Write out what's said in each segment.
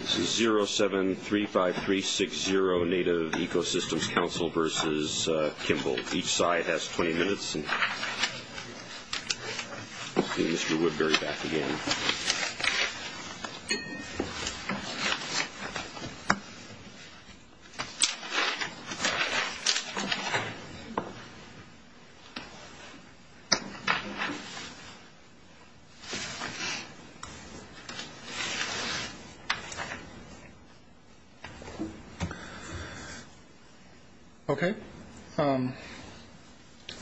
This is 0735360 Native Ecosystems Council v. Kimball. Each side has 20 minutes. I'll get Mr. Woodbury back again. Okay,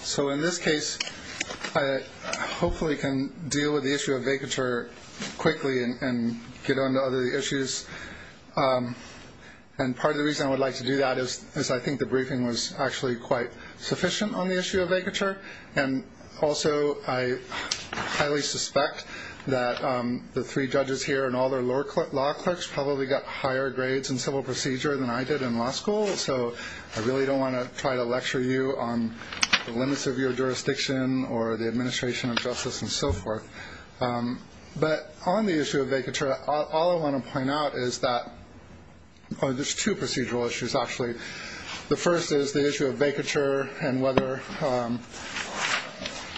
so in this case, I hopefully can deal with the issue of vacature quickly and get on to other issues. And part of the reason I would like to do that is I think the briefing was actually quite sufficient on the issue of vacature. And also, I highly suspect that the three judges here and all their law clerks probably got higher grades in civil procedure than I did in law school. So I really don't want to try to lecture you on the limits of your jurisdiction or the administration of justice and so forth. But on the issue of vacature, all I want to point out is that there's two procedural issues, actually. The first is the issue of vacature and whether,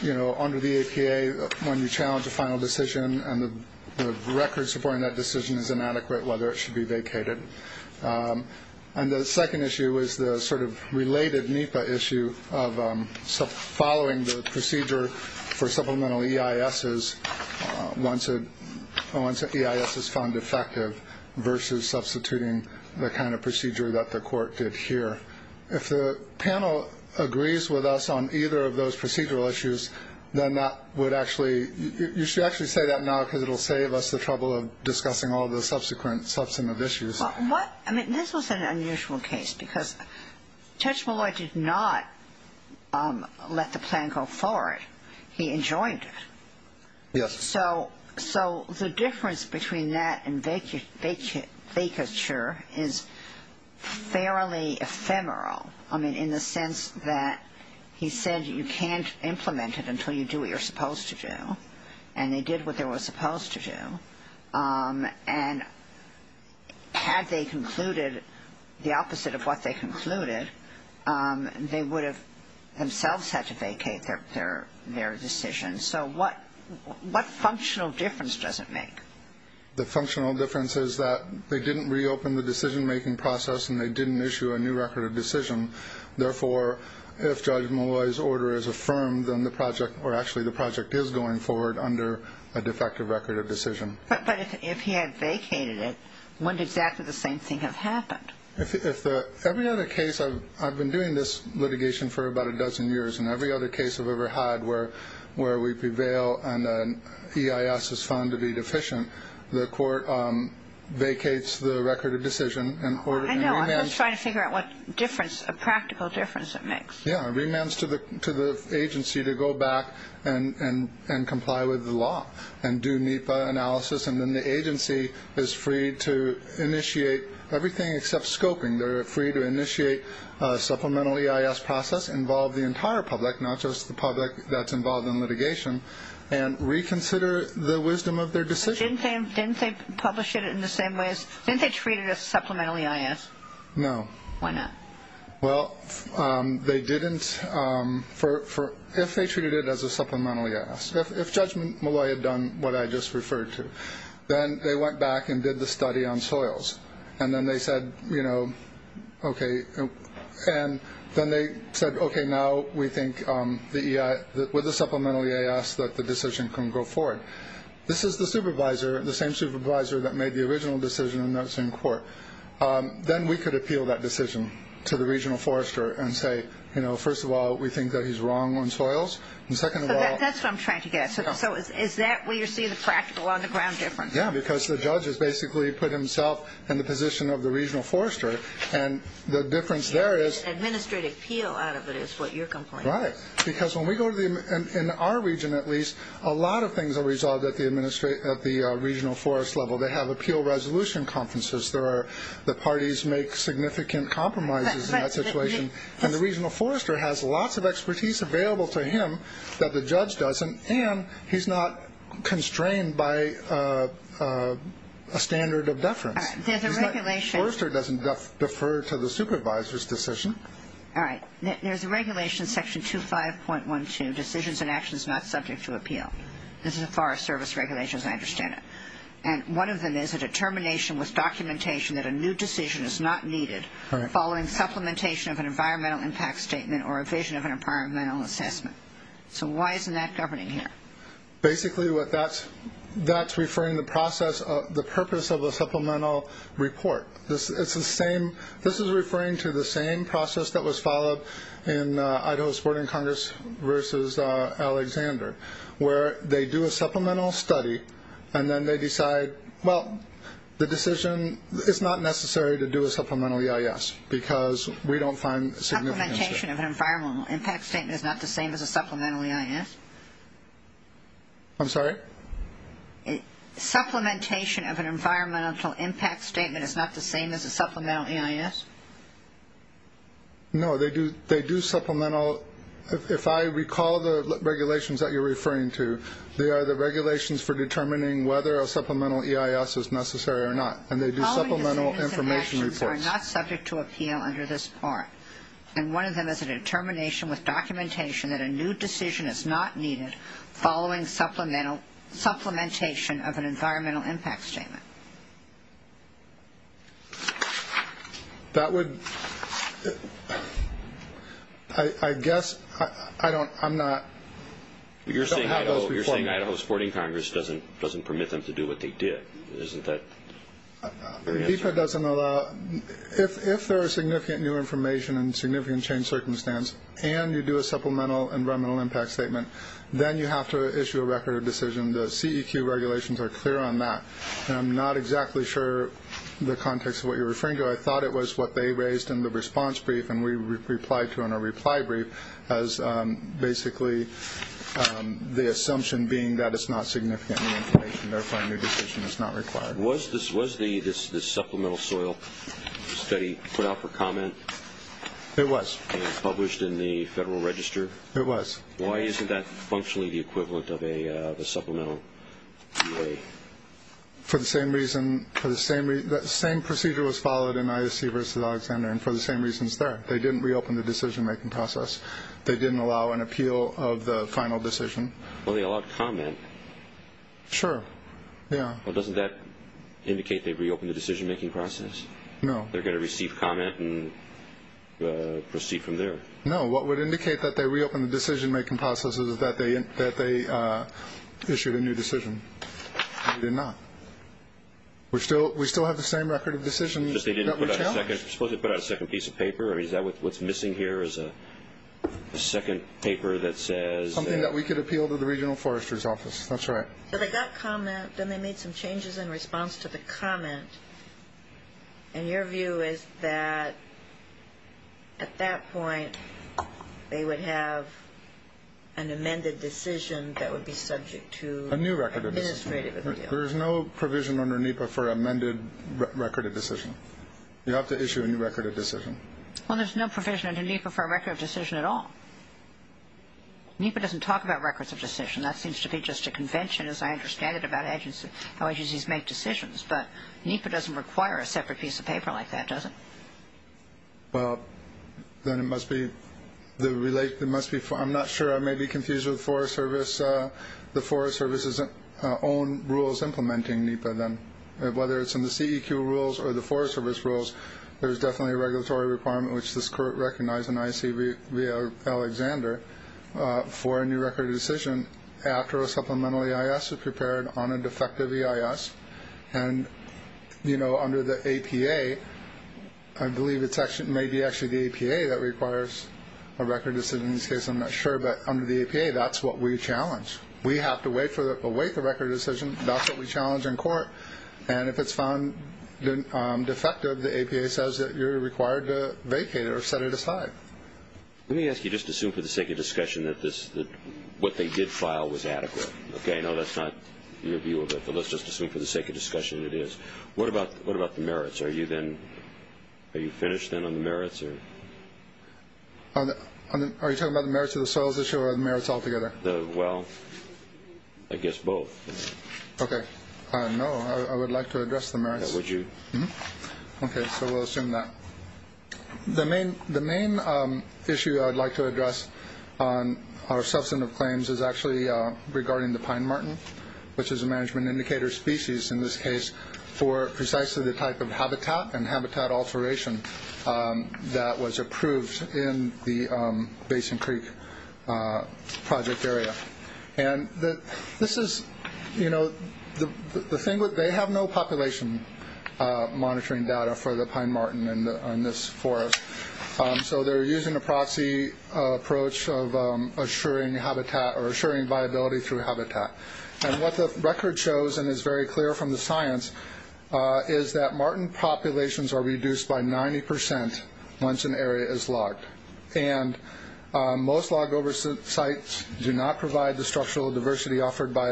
you know, under the APA, when you challenge a final decision and the record supporting that decision is inadequate, whether it should be vacated. And the second issue is the sort of related NEPA issue of following the procedure for supplemental EISs once EIS is found effective versus substituting the kind of procedure that the court did here. If the panel agrees with us on either of those procedural issues, then that would actually – you should actually say that now because it will save us the trouble of discussing all the subsequent substantive issues. Well, what – I mean, this was an unusual case because Judge Malloy did not let the plan go forward. He enjoined it. Yes. So the difference between that and vacature is fairly ephemeral. I mean, in the sense that he said you can't implement it until you do what you're supposed to do. And they did what they were supposed to do. And had they concluded the opposite of what they concluded, they would have themselves had to vacate their decision. So what functional difference does it make? The functional difference is that they didn't reopen the decision-making process and they didn't issue a new record of decision. Therefore, if Judge Malloy's order is affirmed, then the project – or actually the project is going forward under a defective record of decision. But if he had vacated it, wouldn't exactly the same thing have happened? If the – every other case – I've been doing this litigation for about a dozen years, and every other case I've ever had where we prevail and EIS is found to be deficient, the court vacates the record of decision and – I know. I'm just trying to figure out what difference – a practical difference it makes. Yeah. Remands to the agency to go back and comply with the law and do NEPA analysis, and then the agency is free to initiate everything except scoping. They're free to initiate a supplemental EIS process, involve the entire public, not just the public that's involved in litigation, and reconsider the wisdom of their decision. But didn't they publish it in the same way as – didn't they treat it as supplemental EIS? No. Why not? Well, they didn't for – if they treated it as a supplemental EIS. If Judge Malloy had done what I just referred to, then they went back and did the study on soils, and then they said, you know, okay – and then they said, okay, now we think the – with the supplemental EIS that the decision can go forward. This is the supervisor, the same supervisor that made the original decision, and that's in court. Then we could appeal that decision to the regional forester and say, you know, first of all, we think that he's wrong on soils, and second of all – So that's what I'm trying to get at. So is that where you're seeing the practical on-the-ground difference? Yeah, because the judge has basically put himself in the position of the regional forester, and the difference there is – Administrative appeal out of it is what your complaint is. Right, because when we go to the – in our region, at least, a lot of things are resolved at the regional forest level. They have appeal resolution conferences. There are – the parties make significant compromises in that situation, and the regional forester has lots of expertise available to him that the judge doesn't, and he's not constrained by a standard of deference. All right. There's a regulation – The forester doesn't defer to the supervisor's decision. All right. There's a regulation, section 25.12, decisions and actions not subject to appeal. This is a Forest Service regulation, as I understand it, and one of them is a determination with documentation that a new decision is not needed following supplementation of an environmental impact statement or a vision of an environmental assessment. So why isn't that governing here? Basically, what that's – that's referring to the process of the purpose of the supplemental report. It's the same – this is referring to the same process that was followed in Idaho's Boarding Congress versus Alexander, where they do a supplemental study, and then they decide, well, the decision – It's not necessary to do a supplemental EIS because we don't find significance there. Supplementation of an environmental impact statement is not the same as a supplemental EIS? I'm sorry? Supplementation of an environmental impact statement is not the same as a supplemental EIS? No, they do supplemental – if I recall the regulations that you're referring to, they are the regulations for determining whether a supplemental EIS is necessary or not, and they do supplemental information reports. All decisions and actions are not subject to appeal under this part, and one of them is a determination with documentation that a new decision is not needed following supplementation of an environmental impact statement. That would – I guess I don't – I'm not – You're saying Idaho's Boarding Congress doesn't permit them to do what they did, isn't that the answer? DEPA doesn't allow – if there is significant new information and significant change circumstance, and you do a supplemental environmental impact statement, then you have to issue a record of decision. The CEQ regulations are clear on that. I'm not exactly sure the context of what you're referring to. I thought it was what they raised in the response brief, and we replied to in a reply brief as basically the assumption being that it's not significant new information, and therefore a new decision is not required. Was the supplemental soil study put out for comment? It was. And published in the Federal Register? It was. Why isn't that functionally the equivalent of a supplemental? For the same reason – the same procedure was followed in ISC versus Alexander, and for the same reasons there. They didn't reopen the decision-making process. They didn't allow an appeal of the final decision. Well, they allowed comment. Sure. Yeah. Well, doesn't that indicate they reopened the decision-making process? No. They're going to receive comment and proceed from there. No. What would indicate that they reopened the decision-making process is that they issued a new decision. They did not. We still have the same record of decisions that we challenged. Suppose they put out a second piece of paper. What's missing here is a second paper that says – Anything that we could appeal to the Regional Forester's Office. That's right. So they got comment, then they made some changes in response to the comment, and your view is that at that point they would have an amended decision that would be subject to administrative appeal. A new record of decision. There is no provision under NEPA for amended record of decision. You have to issue a new record of decision. Well, there's no provision under NEPA for a record of decision at all. NEPA doesn't talk about records of decision. That seems to be just a convention, as I understand it, about how agencies make decisions. But NEPA doesn't require a separate piece of paper like that, does it? Well, then it must be – I'm not sure. I may be confused with the Forest Service's own rules implementing NEPA then. Whether it's in the CEQ rules or the Forest Service rules, there's definitely a regulatory requirement, which this Court recognized in ICV Alexander, for a new record of decision after a supplemental EIS is prepared on a defective EIS. And, you know, under the APA, I believe it may be actually the APA that requires a record of decision. In this case, I'm not sure, but under the APA, that's what we challenge. We have to await the record of decision. That's what we challenge in court. And if it's found defective, the APA says that you're required to vacate it or set it aside. Let me ask you, just assume for the sake of discussion that what they did file was adequate. Okay, no, that's not your view of it, but let's just assume for the sake of discussion it is. What about the merits? Are you finished then on the merits? Are you talking about the merits of the soils issue or the merits altogether? Well, I guess both. Okay. No, I would like to address the merits. Would you? Okay, so we'll assume that. The main issue I would like to address on our substantive claims is actually regarding the pine marten, which is a management indicator species in this case for precisely the type of habitat and habitat alteration that was approved in the Basin Creek project area. And this is, you know, they have no population monitoring data for the pine marten in this forest. So they're using a proxy approach of assuring viability through habitat. And what the record shows and is very clear from the science is that marten populations are reduced by 90 percent once an area is logged. And most log over sites do not provide the structural diversity offered by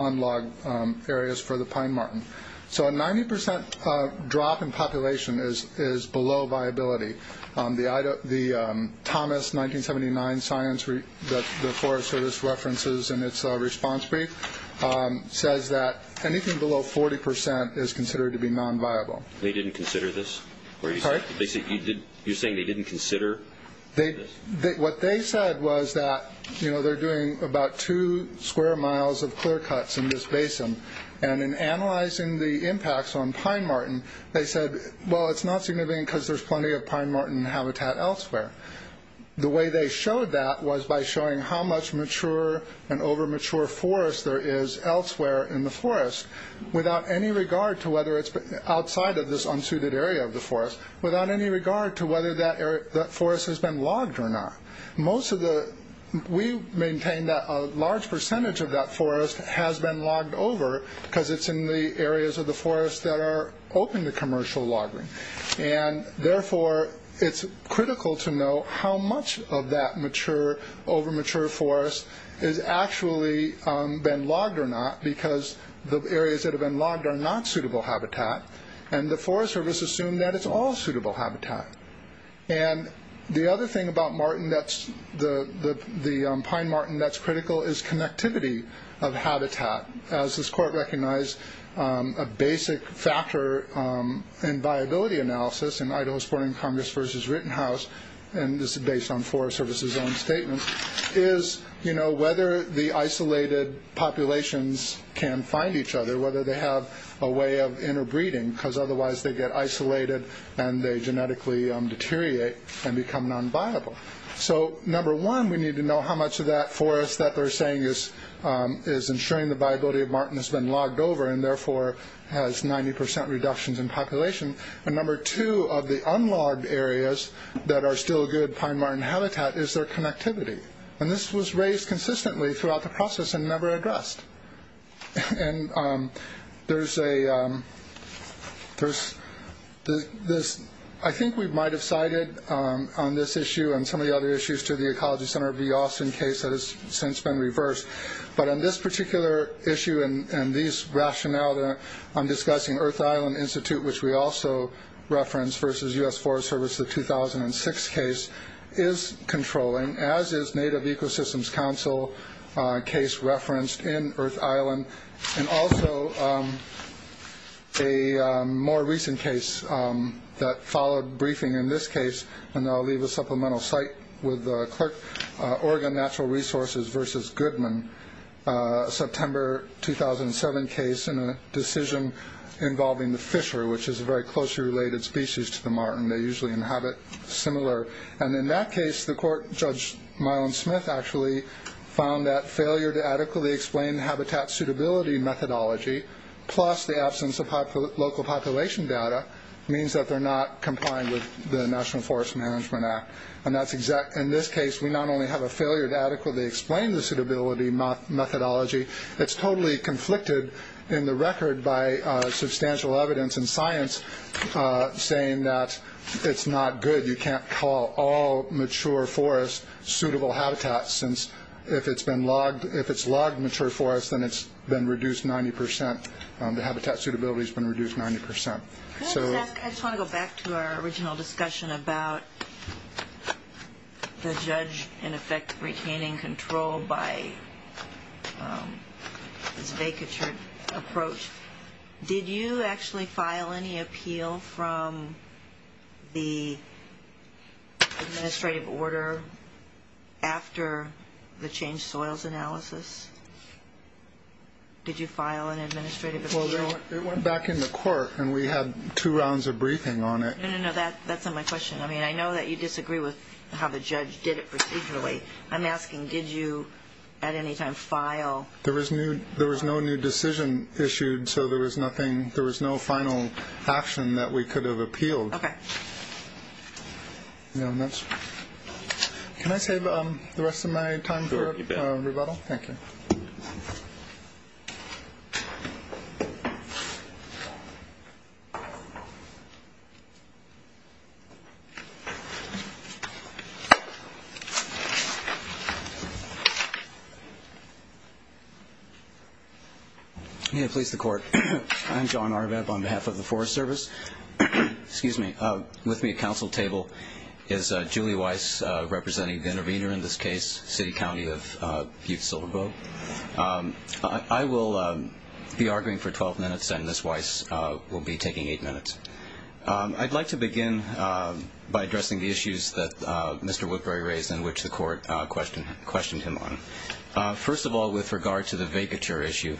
unlogged areas for the pine marten. So a 90 percent drop in population is below viability. The Thomas 1979 science that the Forest Service references in its response brief says that anything below 40 percent is considered to be non-viable. They didn't consider this? Sorry? You're saying they didn't consider this? What they said was that, you know, they're doing about two square miles of clear cuts in this basin. And in analyzing the impacts on pine marten, they said, well, it's not significant because there's plenty of pine marten habitat elsewhere. The way they showed that was by showing how much mature and over mature forest there is elsewhere in the forest, without any regard to whether it's outside of this unsuited area of the forest, without any regard to whether that forest has been logged or not. Most of the, we maintain that a large percentage of that forest has been logged over because it's in the areas of the forest that are open to commercial logging. And therefore, it's critical to know how much of that mature, over mature forest has actually been logged or not because the areas that have been logged are not suitable habitat. And the Forest Service assumed that it's all suitable habitat. And the other thing about marten that's, the pine marten that's critical is connectivity of habitat. As this court recognized, a basic factor in viability analysis in Idaho Sporting Congress versus Rittenhouse, and this is based on Forest Service's own statement, is whether the isolated populations can find each other, whether they have a way of interbreeding because otherwise they get isolated and they genetically deteriorate and become non-viable. So number one, we need to know how much of that forest that they're saying is ensuring the viability of marten has been logged over and therefore has 90% reductions in population. And number two of the unlogged areas that are still good pine marten habitat is their connectivity. And this was raised consistently throughout the process and never addressed. And there's a, I think we might have cited on this issue and some of the other issues to the Ecology Center of the Austin case that has since been reversed. But on this particular issue and these rationale, I'm discussing Earth Island Institute, which we also referenced versus U.S. Forest Service, the 2006 case, is controlling, as is Native Ecosystems Council case referenced in Earth Island. And also a more recent case that followed briefing in this case, and I'll leave a supplemental site with the clerk, Oregon Natural Resources versus Goodman, September 2007 case and a decision involving the fisher, which is a very closely related species to the marten. They usually inhabit similar. And in that case, the court, Judge Mylon Smith actually found that failure to adequately explain habitat suitability methodology plus the absence of local population data means that they're not complying with the National Forest Management Act. And that's exact. In this case, we not only have a failure to adequately explain the suitability methodology, it's totally conflicted in the record by substantial evidence and science saying that it's not good. You can't call all mature forest suitable habitat since if it's been logged, if it's logged mature forest, then it's been reduced 90 percent. The habitat suitability has been reduced 90 percent. I just want to go back to our original discussion about the judge, in effect, retaining control by his vacature approach. Did you actually file any appeal from the administrative order after the changed soils analysis? Did you file an administrative appeal? Well, it went back in the court, and we had two rounds of briefing on it. No, no, no. That's not my question. I mean, I know that you disagree with how the judge did it procedurally. I'm asking, did you at any time file? There was no there was no new decision issued. So there was nothing. There was no final action that we could have appealed. Can I save the rest of my time for rebuttal? Thank you. Please, the court. I'm John Arvab on behalf of the Forest Service. Excuse me. With me at counsel table is Julie Weiss, representing the intervener in this case, City County of Butte, Silverboro. I will be arguing for 12 minutes, and Ms. Weiss will be taking eight minutes. I'd like to begin by addressing the issues that Mr. Woodbury raised and which the court questioned him on. First of all, with regard to the vacature issue,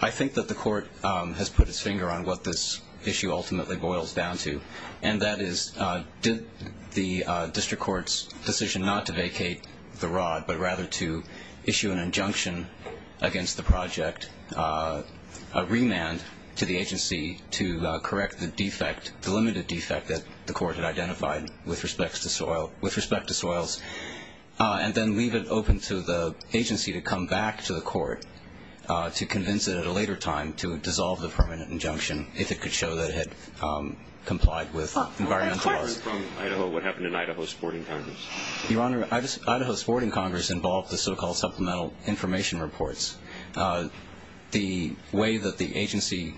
I think that the court has put its finger on what this issue ultimately boils down to, and that is did the district court's decision not to vacate the rod, but rather to issue an injunction against the project, a remand to the agency to correct the defect, the limited defect that the court had identified with respect to soils, and then leave it open to the agency to come back to the court to convince it at a later time to dissolve the permanent injunction, if it could show that it had complied with environmental laws. What happened in Idaho Sporting Congress? Your Honor, Idaho Sporting Congress involved the so-called supplemental information reports. The way that the agency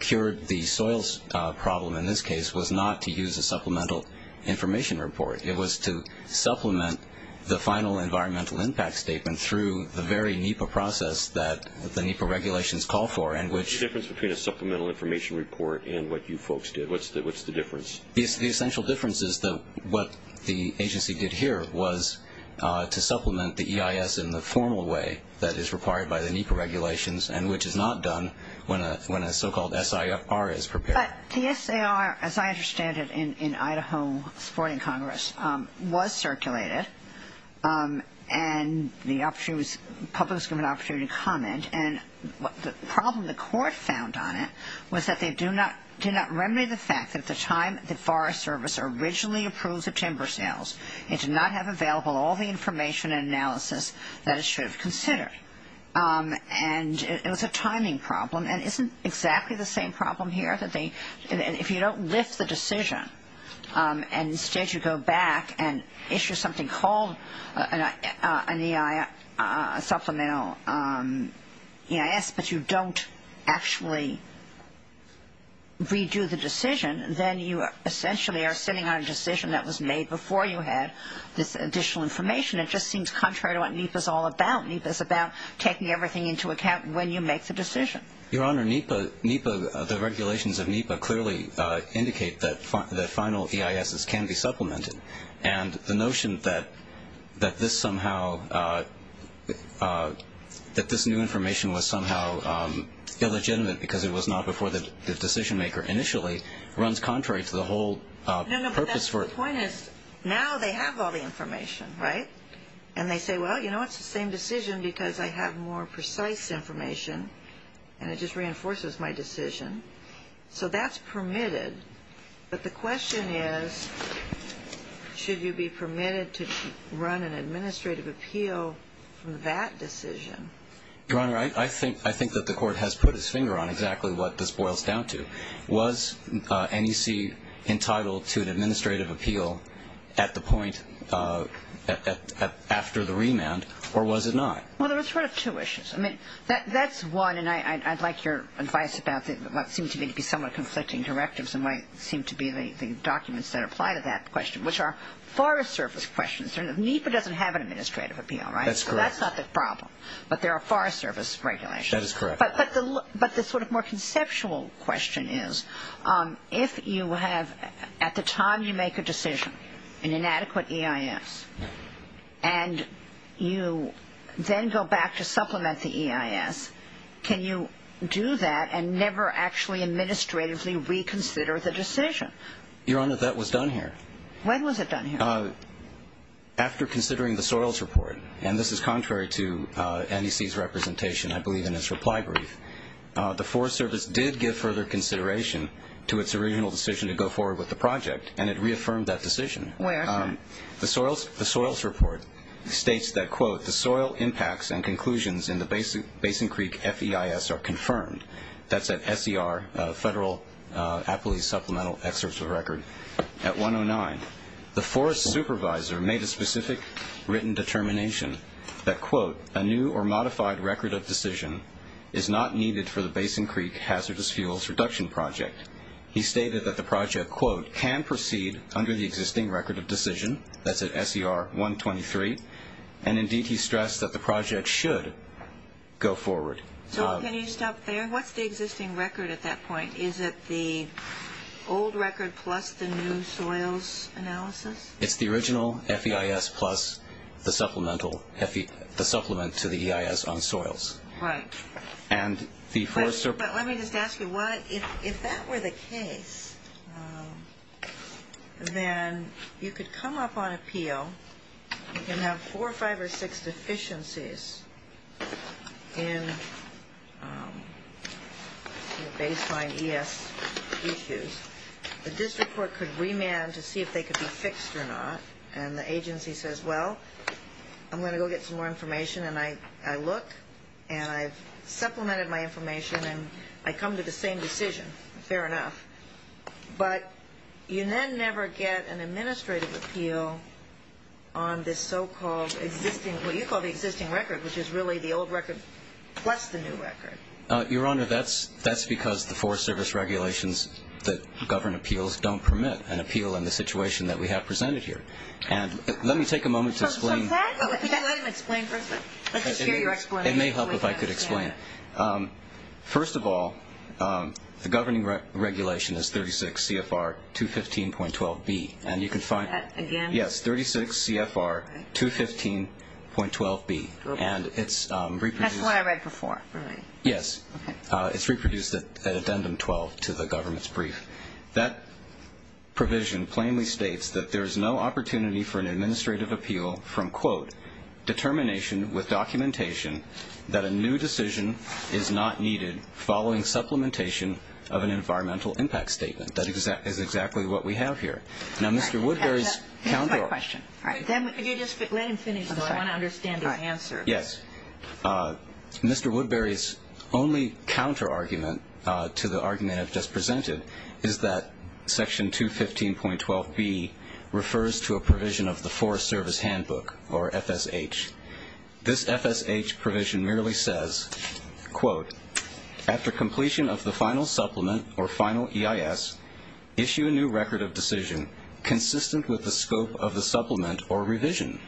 cured the soils problem in this case was not to use a supplemental information report. It was to supplement the final environmental impact statement through the very NEPA process that the NEPA regulations call for. What's the difference between a supplemental information report and what you folks did? What's the difference? The essential difference is that what the agency did here was to supplement the EIS in the formal way that is required by the NEPA regulations and which is not done when a so-called SIR is prepared. But the SIR, as I understand it, in Idaho Sporting Congress was circulated, and the public was given an opportunity to comment, and the problem the court found on it was that they do not remedy the fact that at the time the Forest Service originally approved the timber sales, it did not have available all the information and analysis that it should have considered. And it was a timing problem. And isn't exactly the same problem here that if you don't lift the decision and instead you go back and issue something called an EIS, supplemental EIS, but you don't actually redo the decision, then you essentially are sitting on a decision that was made before you had this additional information. It just seems contrary to what NEPA is all about. NEPA is about taking everything into account when you make the decision. Your Honor, NEPA, the regulations of NEPA clearly indicate that final EISs can be supplemented. And the notion that this somehow, that this new information was somehow illegitimate because it was not before the decision-maker initially runs contrary to the whole purpose for it. No, no, but the point is now they have all the information, right? And they say, well, you know, it's the same decision because I have more precise information and it just reinforces my decision. So that's permitted. But the question is, should you be permitted to run an administrative appeal from that decision? Your Honor, I think that the Court has put its finger on exactly what this boils down to. Was NEC entitled to an administrative appeal at the point after the remand, or was it not? Well, there were sort of two issues. I mean, that's one, and I'd like your advice about what seemed to me to be somewhat conflicting directives and what seemed to be the documents that apply to that question, which are Forest Service questions. NEPA doesn't have an administrative appeal, right? That's correct. So that's not the problem. But there are Forest Service regulations. That is correct. But the sort of more conceptual question is, if you have at the time you make a decision, an inadequate EIS, and you then go back to supplement the EIS, can you do that and never actually administratively reconsider the decision? Your Honor, that was done here. When was it done here? After considering the soils report. And this is contrary to NEC's representation, I believe, in its reply brief. The Forest Service did give further consideration to its original decision to go forward with the project, and it reaffirmed that decision. Where? The soils report states that, quote, the soil impacts and conclusions in the Basin Creek FEIS are confirmed. That's at SER, Federal Appalachee Supplemental Excerpt of Record, at 109. The forest supervisor made a specific written determination that, quote, a new or modified record of decision is not needed for the Basin Creek hazardous fuels reduction project. He stated that the project, quote, can proceed under the existing record of decision. That's at SER 123. And, indeed, he stressed that the project should go forward. So can you stop there? What's the existing record at that point? Is it the old record plus the new soils analysis? It's the original FEIS plus the supplemental to the EIS on soils. Right. But let me just ask you, if that were the case, then you could come up on appeal. You can have four, five, or six deficiencies in baseline ES issues. The district court could remand to see if they could be fixed or not. And the agency says, well, I'm going to go get some more information. And I look, and I've supplemented my information, and I come to the same decision. Fair enough. But you then never get an administrative appeal on this so-called existing, what you call the existing record, which is really the old record plus the new record. Your Honor, that's because the Forest Service regulations that govern appeals don't permit an appeal in the situation that we have presented here. And let me take a moment to explain. Can you let him explain first? Let's hear your explanation. It may help if I could explain. First of all, the governing regulation is 36 CFR 215.12B. And you can find it. Again? Yes, 36 CFR 215.12B. And it's reproduced. That's what I read before. Really? Yes. Okay. It's reproduced at addendum 12 to the government's brief. That provision plainly states that there is no opportunity for an administrative appeal from, quote, with documentation that a new decision is not needed following supplementation of an environmental impact statement. That is exactly what we have here. Now, Mr. Woodbury's counter- That's my question. All right. Let him finish, though. I want to understand his answer. Yes. Mr. Woodbury's only counter-argument to the argument I've just presented is that Section 215.12B refers to a provision of the Forest Service Handbook, or FSH. This FSH provision merely says, quote, after completion of the final supplement or final EIS, issue a new record of decision consistent with the scope of the supplement or revision.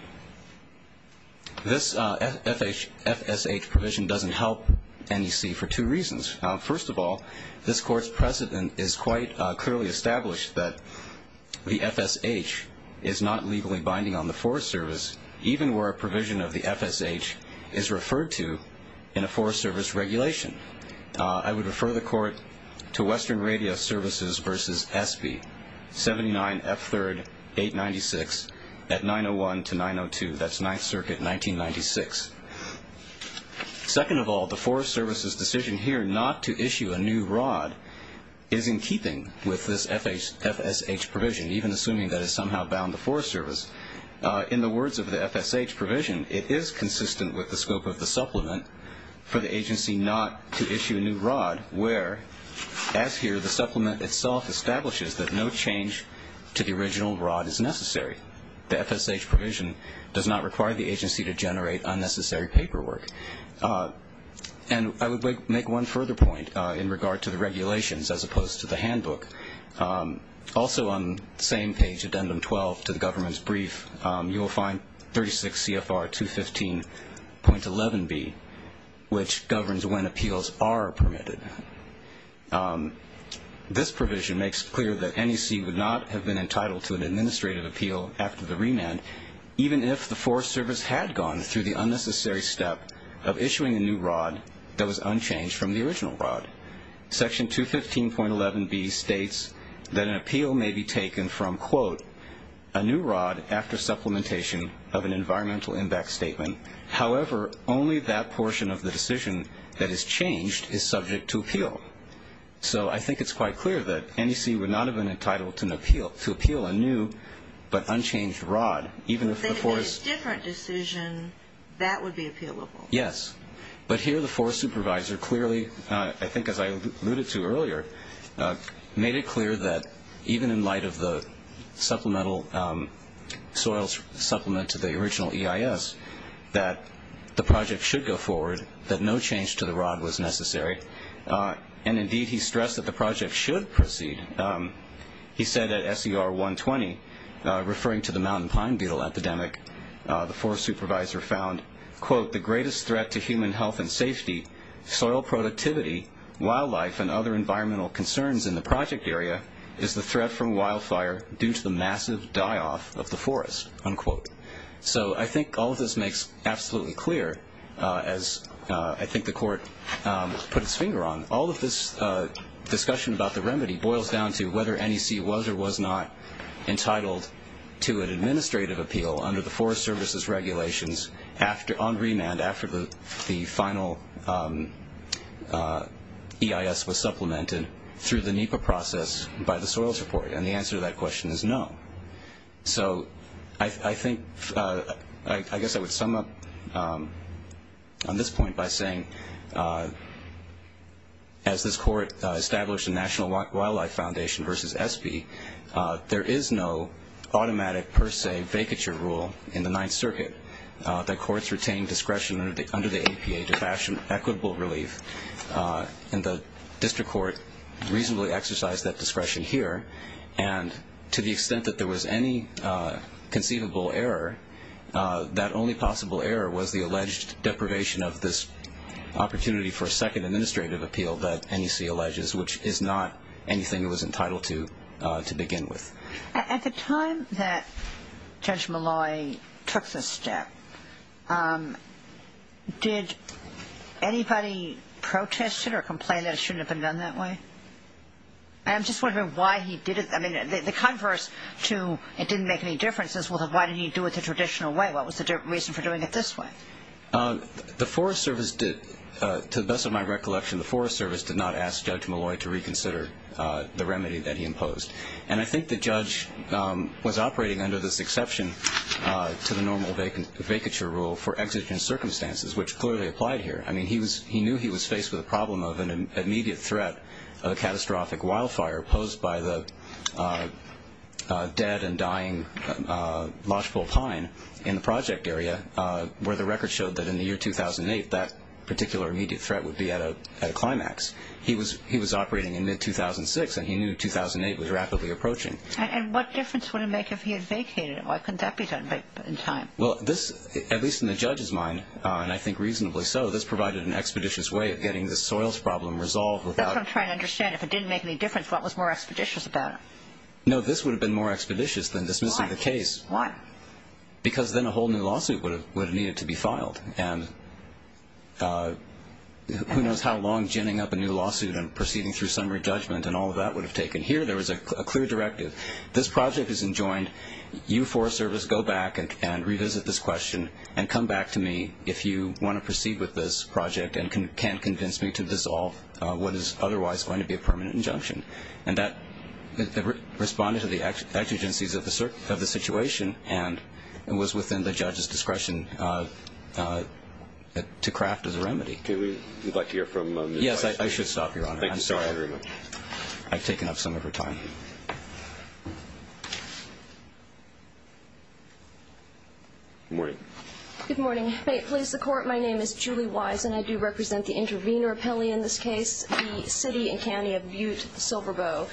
This FSH provision doesn't help NEC for two reasons. First of all, this Court's precedent is quite clearly established that the FSH is not legally binding on the Forest Service, even where a provision of the FSH is referred to in a Forest Service regulation. I would refer the Court to Western Radio Services v. SB, 79F3rd 896 at 901 to 902. That's Ninth Circuit, 1996. Second of all, the Forest Service's decision here not to issue a new rod is in keeping with this FSH provision, even assuming that it somehow bound the Forest Service. In the words of the FSH provision, it is consistent with the scope of the supplement for the agency not to issue a new rod, where, as here, the supplement itself establishes that no change to the original rod is necessary. The FSH provision does not require the agency to generate unnecessary paperwork. And I would make one further point in regard to the regulations as opposed to the handbook. Also on the same page, Addendum 12 to the government's brief, you will find 36 CFR 215.11b, which governs when appeals are permitted. This provision makes clear that NEC would not have been entitled to an administrative appeal after the remand, even if the Forest Service had gone through the unnecessary step of issuing a new rod that was unchanged from the original rod. Section 215.11b states that an appeal may be taken from, quote, a new rod after supplementation of an environmental impact statement. However, only that portion of the decision that is changed is subject to appeal. So I think it's quite clear that NEC would not have been entitled to appeal a new but unchanged rod, even if the forest- If they had made a different decision, that would be appealable. Yes. But here the forest supervisor clearly, I think as I alluded to earlier, made it clear that even in light of the supplemental soils supplement to the original EIS, that the project should go forward, that no change to the rod was necessary, and indeed he stressed that the project should proceed. He said at SER 120, referring to the mountain pine beetle epidemic, the forest supervisor found, quote, that the greatest threat to human health and safety, soil productivity, wildlife, and other environmental concerns in the project area is the threat from wildfire due to the massive die-off of the forest, unquote. So I think all of this makes absolutely clear, as I think the court put its finger on. All of this discussion about the remedy boils down to whether NEC was or was not entitled to an administrative appeal under the Forest Services regulations on remand after the final EIS was supplemented through the NEPA process by the soils report, and the answer to that question is no. So I think, I guess I would sum up on this point by saying, as this court established the National Wildlife Foundation versus ESPE, there is no automatic per se vacature rule in the Ninth Circuit that courts retain discretion under the APA to fashion equitable relief, and the district court reasonably exercised that discretion here, and to the extent that there was any conceivable error, that only possible error was the alleged deprivation of this opportunity for a second administrative appeal that NEC alleges, which is not anything it was entitled to begin with. At the time that Judge Malloy took this step, did anybody protest it or complain that it shouldn't have been done that way? I'm just wondering why he did it. I mean, the converse to it didn't make any difference is why didn't he do it the traditional way? What was the reason for doing it this way? The Forest Service did, to the best of my recollection, the Forest Service did not ask Judge Malloy to reconsider the remedy that he imposed, and I think the judge was operating under this exception to the normal vacature rule for exigent circumstances, which clearly applied here. I mean, he knew he was faced with a problem of an immediate threat of a catastrophic wildfire posed by the dead and dying lodgepole pine in the project area, where the record showed that in the year 2008 that particular immediate threat would be at a climax. He was operating in mid-2006, and he knew 2008 was rapidly approaching. And what difference would it make if he had vacated? Why couldn't that be done in time? Well, this, at least in the judge's mind, and I think reasonably so, this provided an expeditious way of getting this soils problem resolved without That's what I'm trying to understand. If it didn't make any difference, what was more expeditious about it? No, this would have been more expeditious than dismissing the case. Why? Because then a whole new lawsuit would have needed to be filed, and who knows how long ginning up a new lawsuit and proceeding through summary judgment and all of that would have taken. Here there was a clear directive. This project is enjoined. You, Forest Service, go back and revisit this question and come back to me if you want to proceed with this project and can convince me to dissolve what is otherwise going to be a permanent injunction. And that responded to the exigencies of the situation and was within the judge's discretion to craft as a remedy. Would you like to hear from Ms. Weiss? Yes, I should stop, Your Honor. I'm sorry. I've taken up some of her time. Good morning. Good morning. May it please the Court, my name is Julie Weiss, and I do represent the intervener appellee in this case, the city and county of Butte-Silverboe.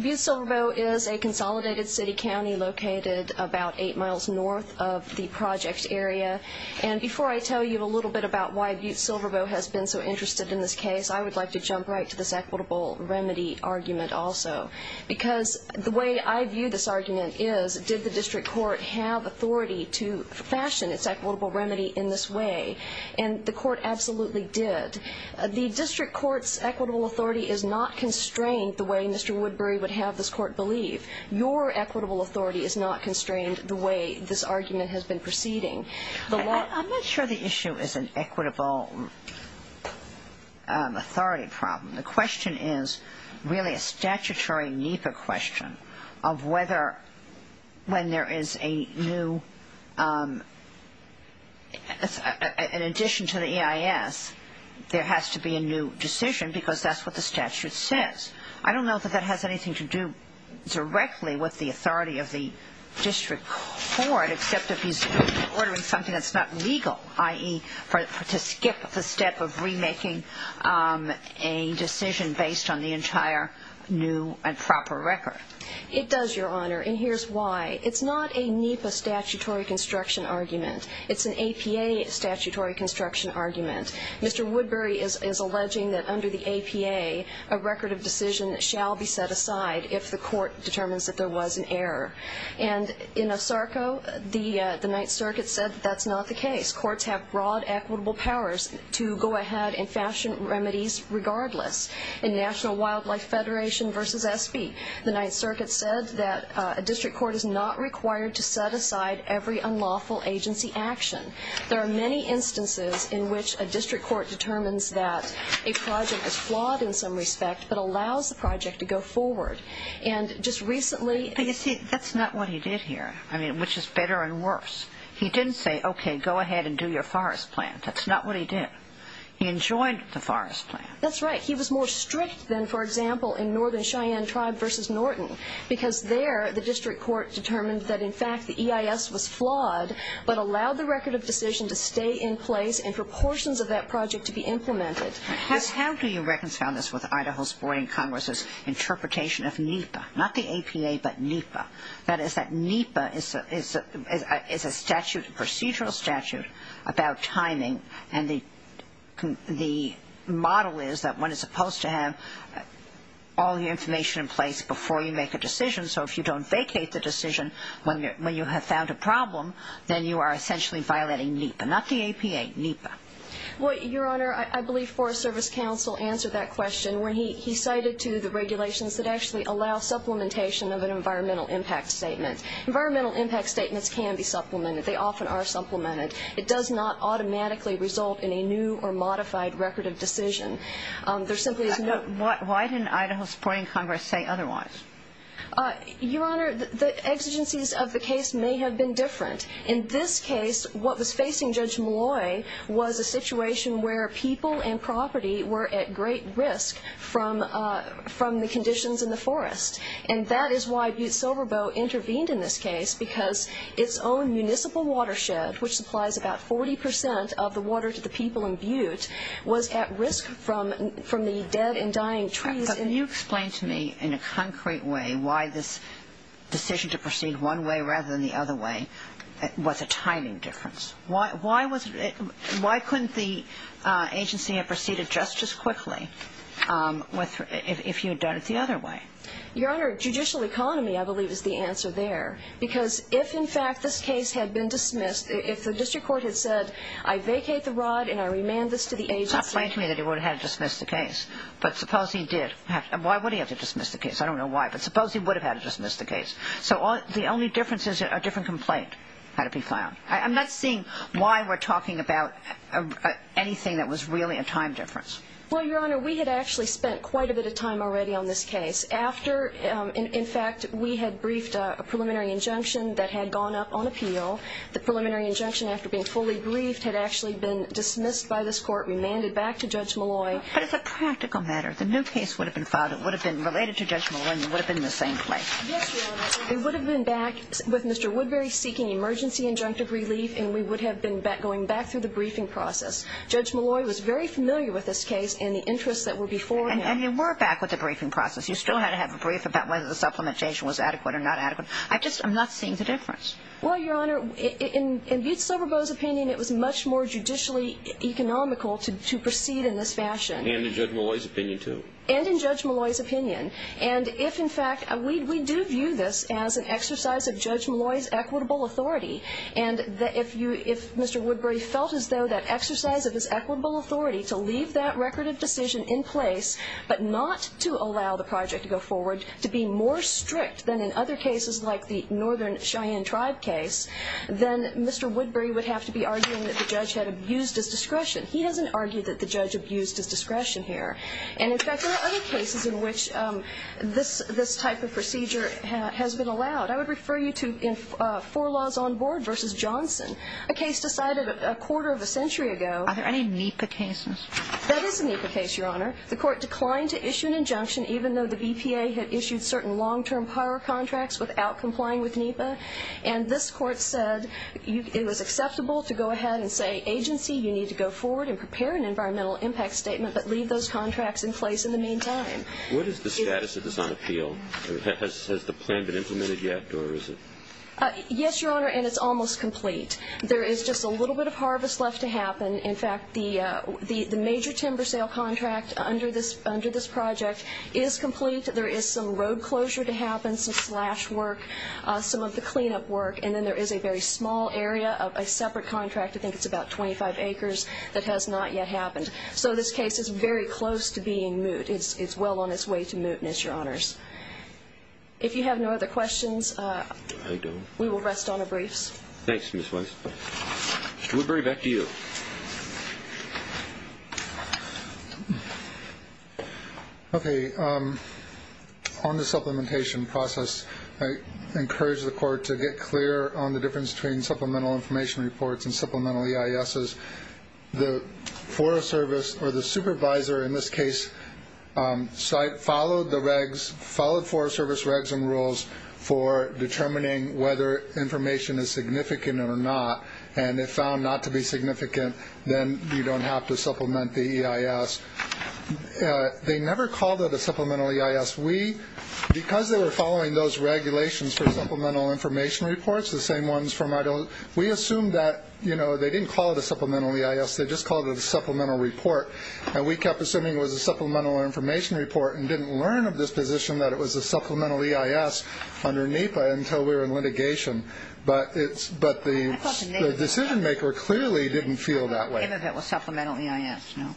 Butte-Silverboe is a consolidated city county located about eight miles north of the project area. And before I tell you a little bit about why Butte-Silverboe has been so interested in this case, I would like to jump right to this equitable remedy argument also. Because the way I view this argument is, did the district court have authority to fashion its equitable remedy in this way? And the court absolutely did. The district court's equitable authority is not constrained the way Mr. Woodbury would have this court believe. Your equitable authority is not constrained the way this argument has been proceeding. I'm not sure the issue is an equitable authority problem. The question is really a statutory NEPA question of whether when there is a new ‑‑ in addition to the EIS, there has to be a new decision because that's what the statute says. I don't know that that has anything to do directly with the authority of the district court, except if he's ordering something that's not legal, i.e., to skip the step of remaking a decision based on the entire new and proper record. It does, Your Honor, and here's why. It's not a NEPA statutory construction argument. It's an APA statutory construction argument. Mr. Woodbury is alleging that under the APA, a record of decision shall be set aside if the court determines that there was an error. And in ASARCO, the Ninth Circuit said that's not the case. Courts have broad equitable powers to go ahead and fashion remedies regardless. In National Wildlife Federation v. SB, the Ninth Circuit said that a district court is not required to set aside every unlawful agency action. There are many instances in which a district court determines that a project is flawed in some respect but allows the project to go forward. But you see, that's not what he did here, which is better and worse. He didn't say, okay, go ahead and do your forest plant. That's not what he did. He enjoined the forest plant. That's right. He was more strict than, for example, in Northern Cheyenne Tribe v. Norton because there the district court determined that, in fact, the EIS was flawed but allowed the record of decision to stay in place and for portions of that project to be implemented. How do you reconcile this with Idaho's Boarding Congress' interpretation of NEPA? Not the APA, but NEPA. That is that NEPA is a procedural statute about timing, and the model is that one is supposed to have all the information in place before you make a decision. So if you don't vacate the decision when you have found a problem, then you are essentially violating NEPA, not the APA, NEPA. Well, Your Honor, I believe Forest Service Counsel answered that question when he cited to the regulations that actually allow supplementation of an environmental impact statement. Environmental impact statements can be supplemented. They often are supplemented. It does not automatically result in a new or modified record of decision. There simply is no ---- Why didn't Idaho's Boarding Congress say otherwise? Your Honor, the exigencies of the case may have been different. In this case, what was facing Judge Malloy was a situation where people and property were at great risk from the conditions in the forest. And that is why Butte Silverboat intervened in this case, because its own municipal watershed, which supplies about 40 percent of the water to the people in Butte, was at risk from the dead and dying trees. Can you explain to me in a concrete way why this decision to proceed one way rather than the other way was a timing difference? Why couldn't the agency have proceeded just as quickly if you had done it the other way? Your Honor, judicial economy, I believe, is the answer there. Because if, in fact, this case had been dismissed, if the district court had said, I vacate the rod and I remand this to the agency ---- Explain to me that he would have had to dismiss the case. But suppose he did. Why would he have to dismiss the case? I don't know why, but suppose he would have had to dismiss the case. So the only difference is a different complaint had to be filed. I'm not seeing why we're talking about anything that was really a time difference. Well, Your Honor, we had actually spent quite a bit of time already on this case. In fact, we had briefed a preliminary injunction that had gone up on appeal. The preliminary injunction, after being fully briefed, had actually been dismissed by this court, remanded back to Judge Molloy. But as a practical matter, the new case would have been filed. It would have been related to Judge Molloy and would have been in the same place. Yes, Your Honor. It would have been back with Mr. Woodbury seeking emergency injunctive relief, and we would have been going back through the briefing process. Judge Molloy was very familiar with this case and the interests that were before him. And you were back with the briefing process. You still had to have a brief about whether the supplementation was adequate or not adequate. I just am not seeing the difference. Well, Your Honor, in Butte-Silverboe's opinion, it was much more judicially economical to proceed in this fashion. And in Judge Molloy's opinion, too. And in Judge Molloy's opinion. And if, in fact, we do view this as an exercise of Judge Molloy's equitable authority, and if Mr. Woodbury felt as though that exercise of his equitable authority to leave that record of decision in place but not to allow the project to go forward, to be more strict than in other cases like the Northern Cheyenne Tribe case, then Mr. Woodbury would have to be arguing that the judge had abused his discretion. He doesn't argue that the judge abused his discretion here. And, in fact, there are other cases in which this type of procedure has been allowed. I would refer you to Four Laws on Board v. Johnson, a case decided a quarter of a century ago. Are there any NEPA cases? That is a NEPA case, Your Honor. The court declined to issue an injunction, even though the BPA had issued certain long-term power contracts without complying with NEPA. And this court said it was acceptable to go ahead and say, agency, you need to go forward and prepare an environmental impact statement but leave those contracts in place in the meantime. What is the status of this on appeal? Has the plan been implemented yet, or is it? Yes, Your Honor, and it's almost complete. There is just a little bit of harvest left to happen. In fact, the major timber sale contract under this project is complete. There is some road closure to happen, some slash work, some of the cleanup work, and then there is a very small area of a separate contract, I think it's about 25 acres, that has not yet happened. So this case is very close to being moot. It's well on its way to mootness, Your Honors. If you have no other questions, we will rest on our briefs. Thanks, Ms. Weiss. Mr. Woodbury, back to you. Okay. On the supplementation process, I encourage the court to get clear on the difference between supplemental information reports and supplemental EISs. The Forest Service, or the supervisor in this case, followed Forest Service regs and rules for determining whether information is significant or not, and if found not to be significant, then you don't have to supplement the EIS. They never called it a supplemental EIS. Because they were following those regulations for supplemental information reports, the same ones from Idaho, we assumed that they didn't call it a supplemental EIS, they just called it a supplemental report, and we kept assuming it was a supplemental information report and didn't learn of this position that it was a supplemental EIS under NEPA until we were in litigation. But the decision-maker clearly didn't feel that way. I thought the name of it was supplemental EIS, no?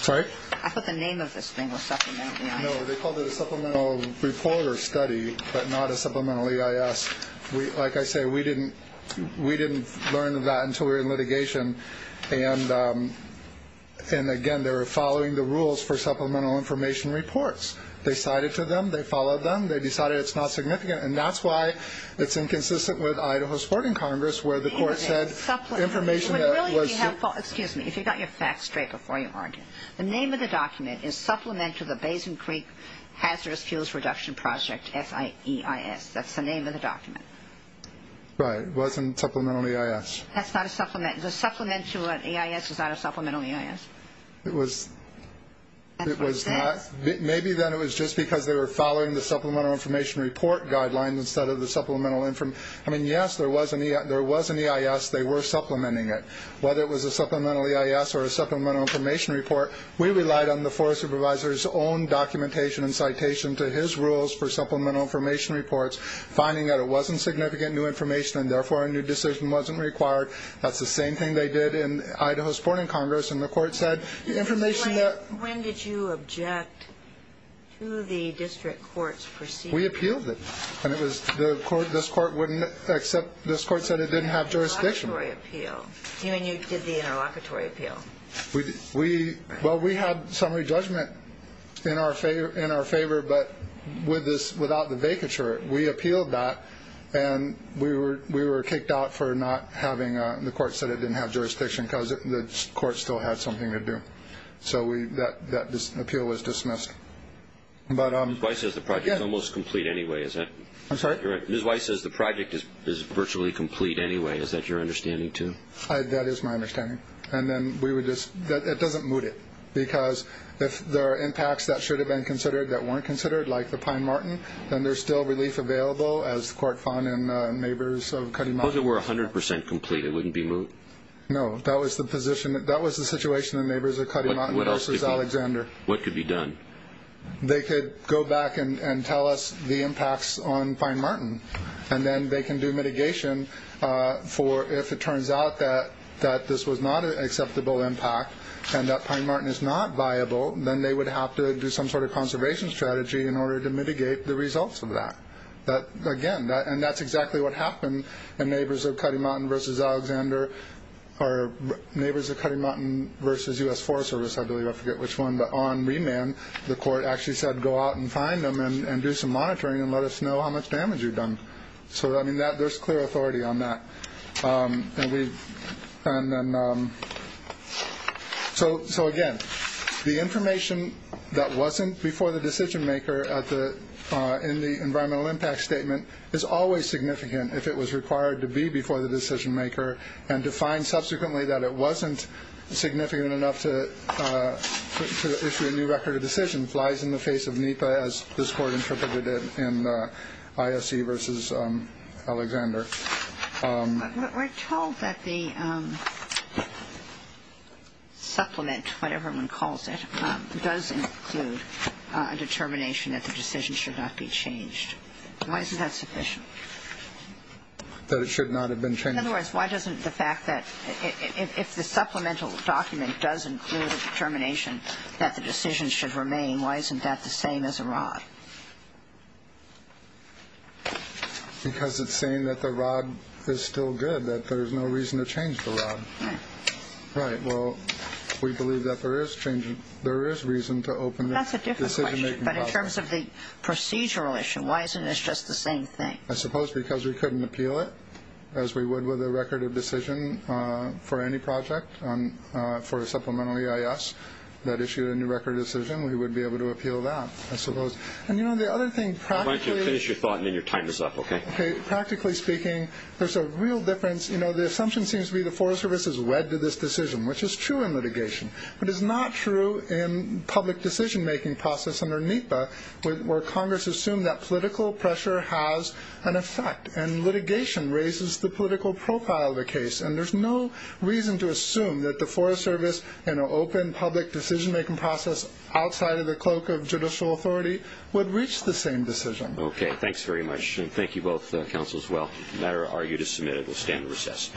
Sorry? I thought the name of this thing was supplemental EIS. No, they called it a supplemental report or study, but not a supplemental EIS. Like I say, we didn't learn of that until we were in litigation, and again, they were following the rules for supplemental information reports. They cited to them, they followed them, they decided it's not significant, and that's why it's inconsistent with Idaho's court in Congress, where the court said information that was— Excuse me. If you got your facts straight before you argued, the name of the document is Supplemental to the Basin Creek Hazardous Fuels Reduction Project, FEIS. That's the name of the document. Right. It wasn't supplemental EIS. That's not a supplement. The supplemental EIS is not a supplemental EIS. It was not. Maybe then it was just because they were following the supplemental information report guidelines instead of the supplemental—I mean, yes, there was an EIS. They were supplementing it. Whether it was a supplemental EIS or a supplemental information report, we relied on the forest supervisor's own documentation and citation to his rules for supplemental information reports, finding that it wasn't significant new information, and therefore a new decision wasn't required. That's the same thing they did in Idaho's court in Congress, and the court said information that— When did you object to the district court's proceeding? We appealed it, and it was—this court wouldn't accept—this court said it didn't have jurisdiction. Interlocutory appeal. You and you did the interlocutory appeal. Well, we had summary judgment in our favor, but without the vacatur, we appealed that, and we were kicked out for not having—the court said it didn't have jurisdiction because the court still had something to do. So that appeal was dismissed. Ms. Weiss says the project is almost complete anyway. Is that— I'm sorry? You're right. Ms. Weiss says the project is virtually complete anyway. Is that your understanding, too? That is my understanding. And then we would just—it doesn't moot it, because if there are impacts that should have been considered that weren't considered, like the Pine Martin, then there's still relief available, as the court found in Neighbors of Cutting Mountain. Suppose it were 100 percent complete. It wouldn't be moot? No. That was the position—that was the situation in Neighbors of Cutting Mountain versus Alexander. What could be done? They could go back and tell us the impacts on Pine Martin, and then they can do mitigation for if it turns out that this was not an acceptable impact and that Pine Martin is not viable, then they would have to do some sort of conservation strategy in order to mitigate the results of that. Again, and that's exactly what happened in Neighbors of Cutting Mountain versus Alexander— or Neighbors of Cutting Mountain versus U.S. Forest Service, I believe. I forget which one. But on remand, the court actually said, go out and find them and do some monitoring and let us know how much damage you've done. So, I mean, there's clear authority on that. So, again, the information that wasn't before the decision-maker in the environmental impact statement is always significant if it was required to be before the decision-maker and defined subsequently that it wasn't significant enough to issue a new record of decision flies in the face of NEPA as this court interpreted it in ISC versus Alexander. But we're told that the supplement, whatever one calls it, does include a determination that the decision should not be changed. Why isn't that sufficient? That it should not have been changed. In other words, why doesn't the fact that— if the supplemental document does include a determination that the decision should remain, why isn't that the same as a rod? Because it's saying that the rod is still good, that there's no reason to change the rod. Right. Well, we believe that there is reason to open the decision-making process. That's a different question. But in terms of the procedural issue, why isn't this just the same thing? I suppose because we couldn't appeal it, as we would with a record of decision for any project for a supplemental EIS that issued a new record of decision, we would be able to appeal that. I suppose. And, you know, the other thing practically— Why don't you finish your thought and then your time is up, okay? Okay. Practically speaking, there's a real difference. You know, the assumption seems to be the Forest Service is wed to this decision, which is true in litigation, but is not true in public decision-making process under NEPA, where Congress assumed that political pressure has an effect and litigation raises the political profile of the case. And there's no reason to assume that the Forest Service in an open public decision-making process outside of the cloak of judicial authority would reach the same decision. Okay. Thanks very much. And thank you both, counsel, as well. The matter argued is submitted. We'll stand to recess.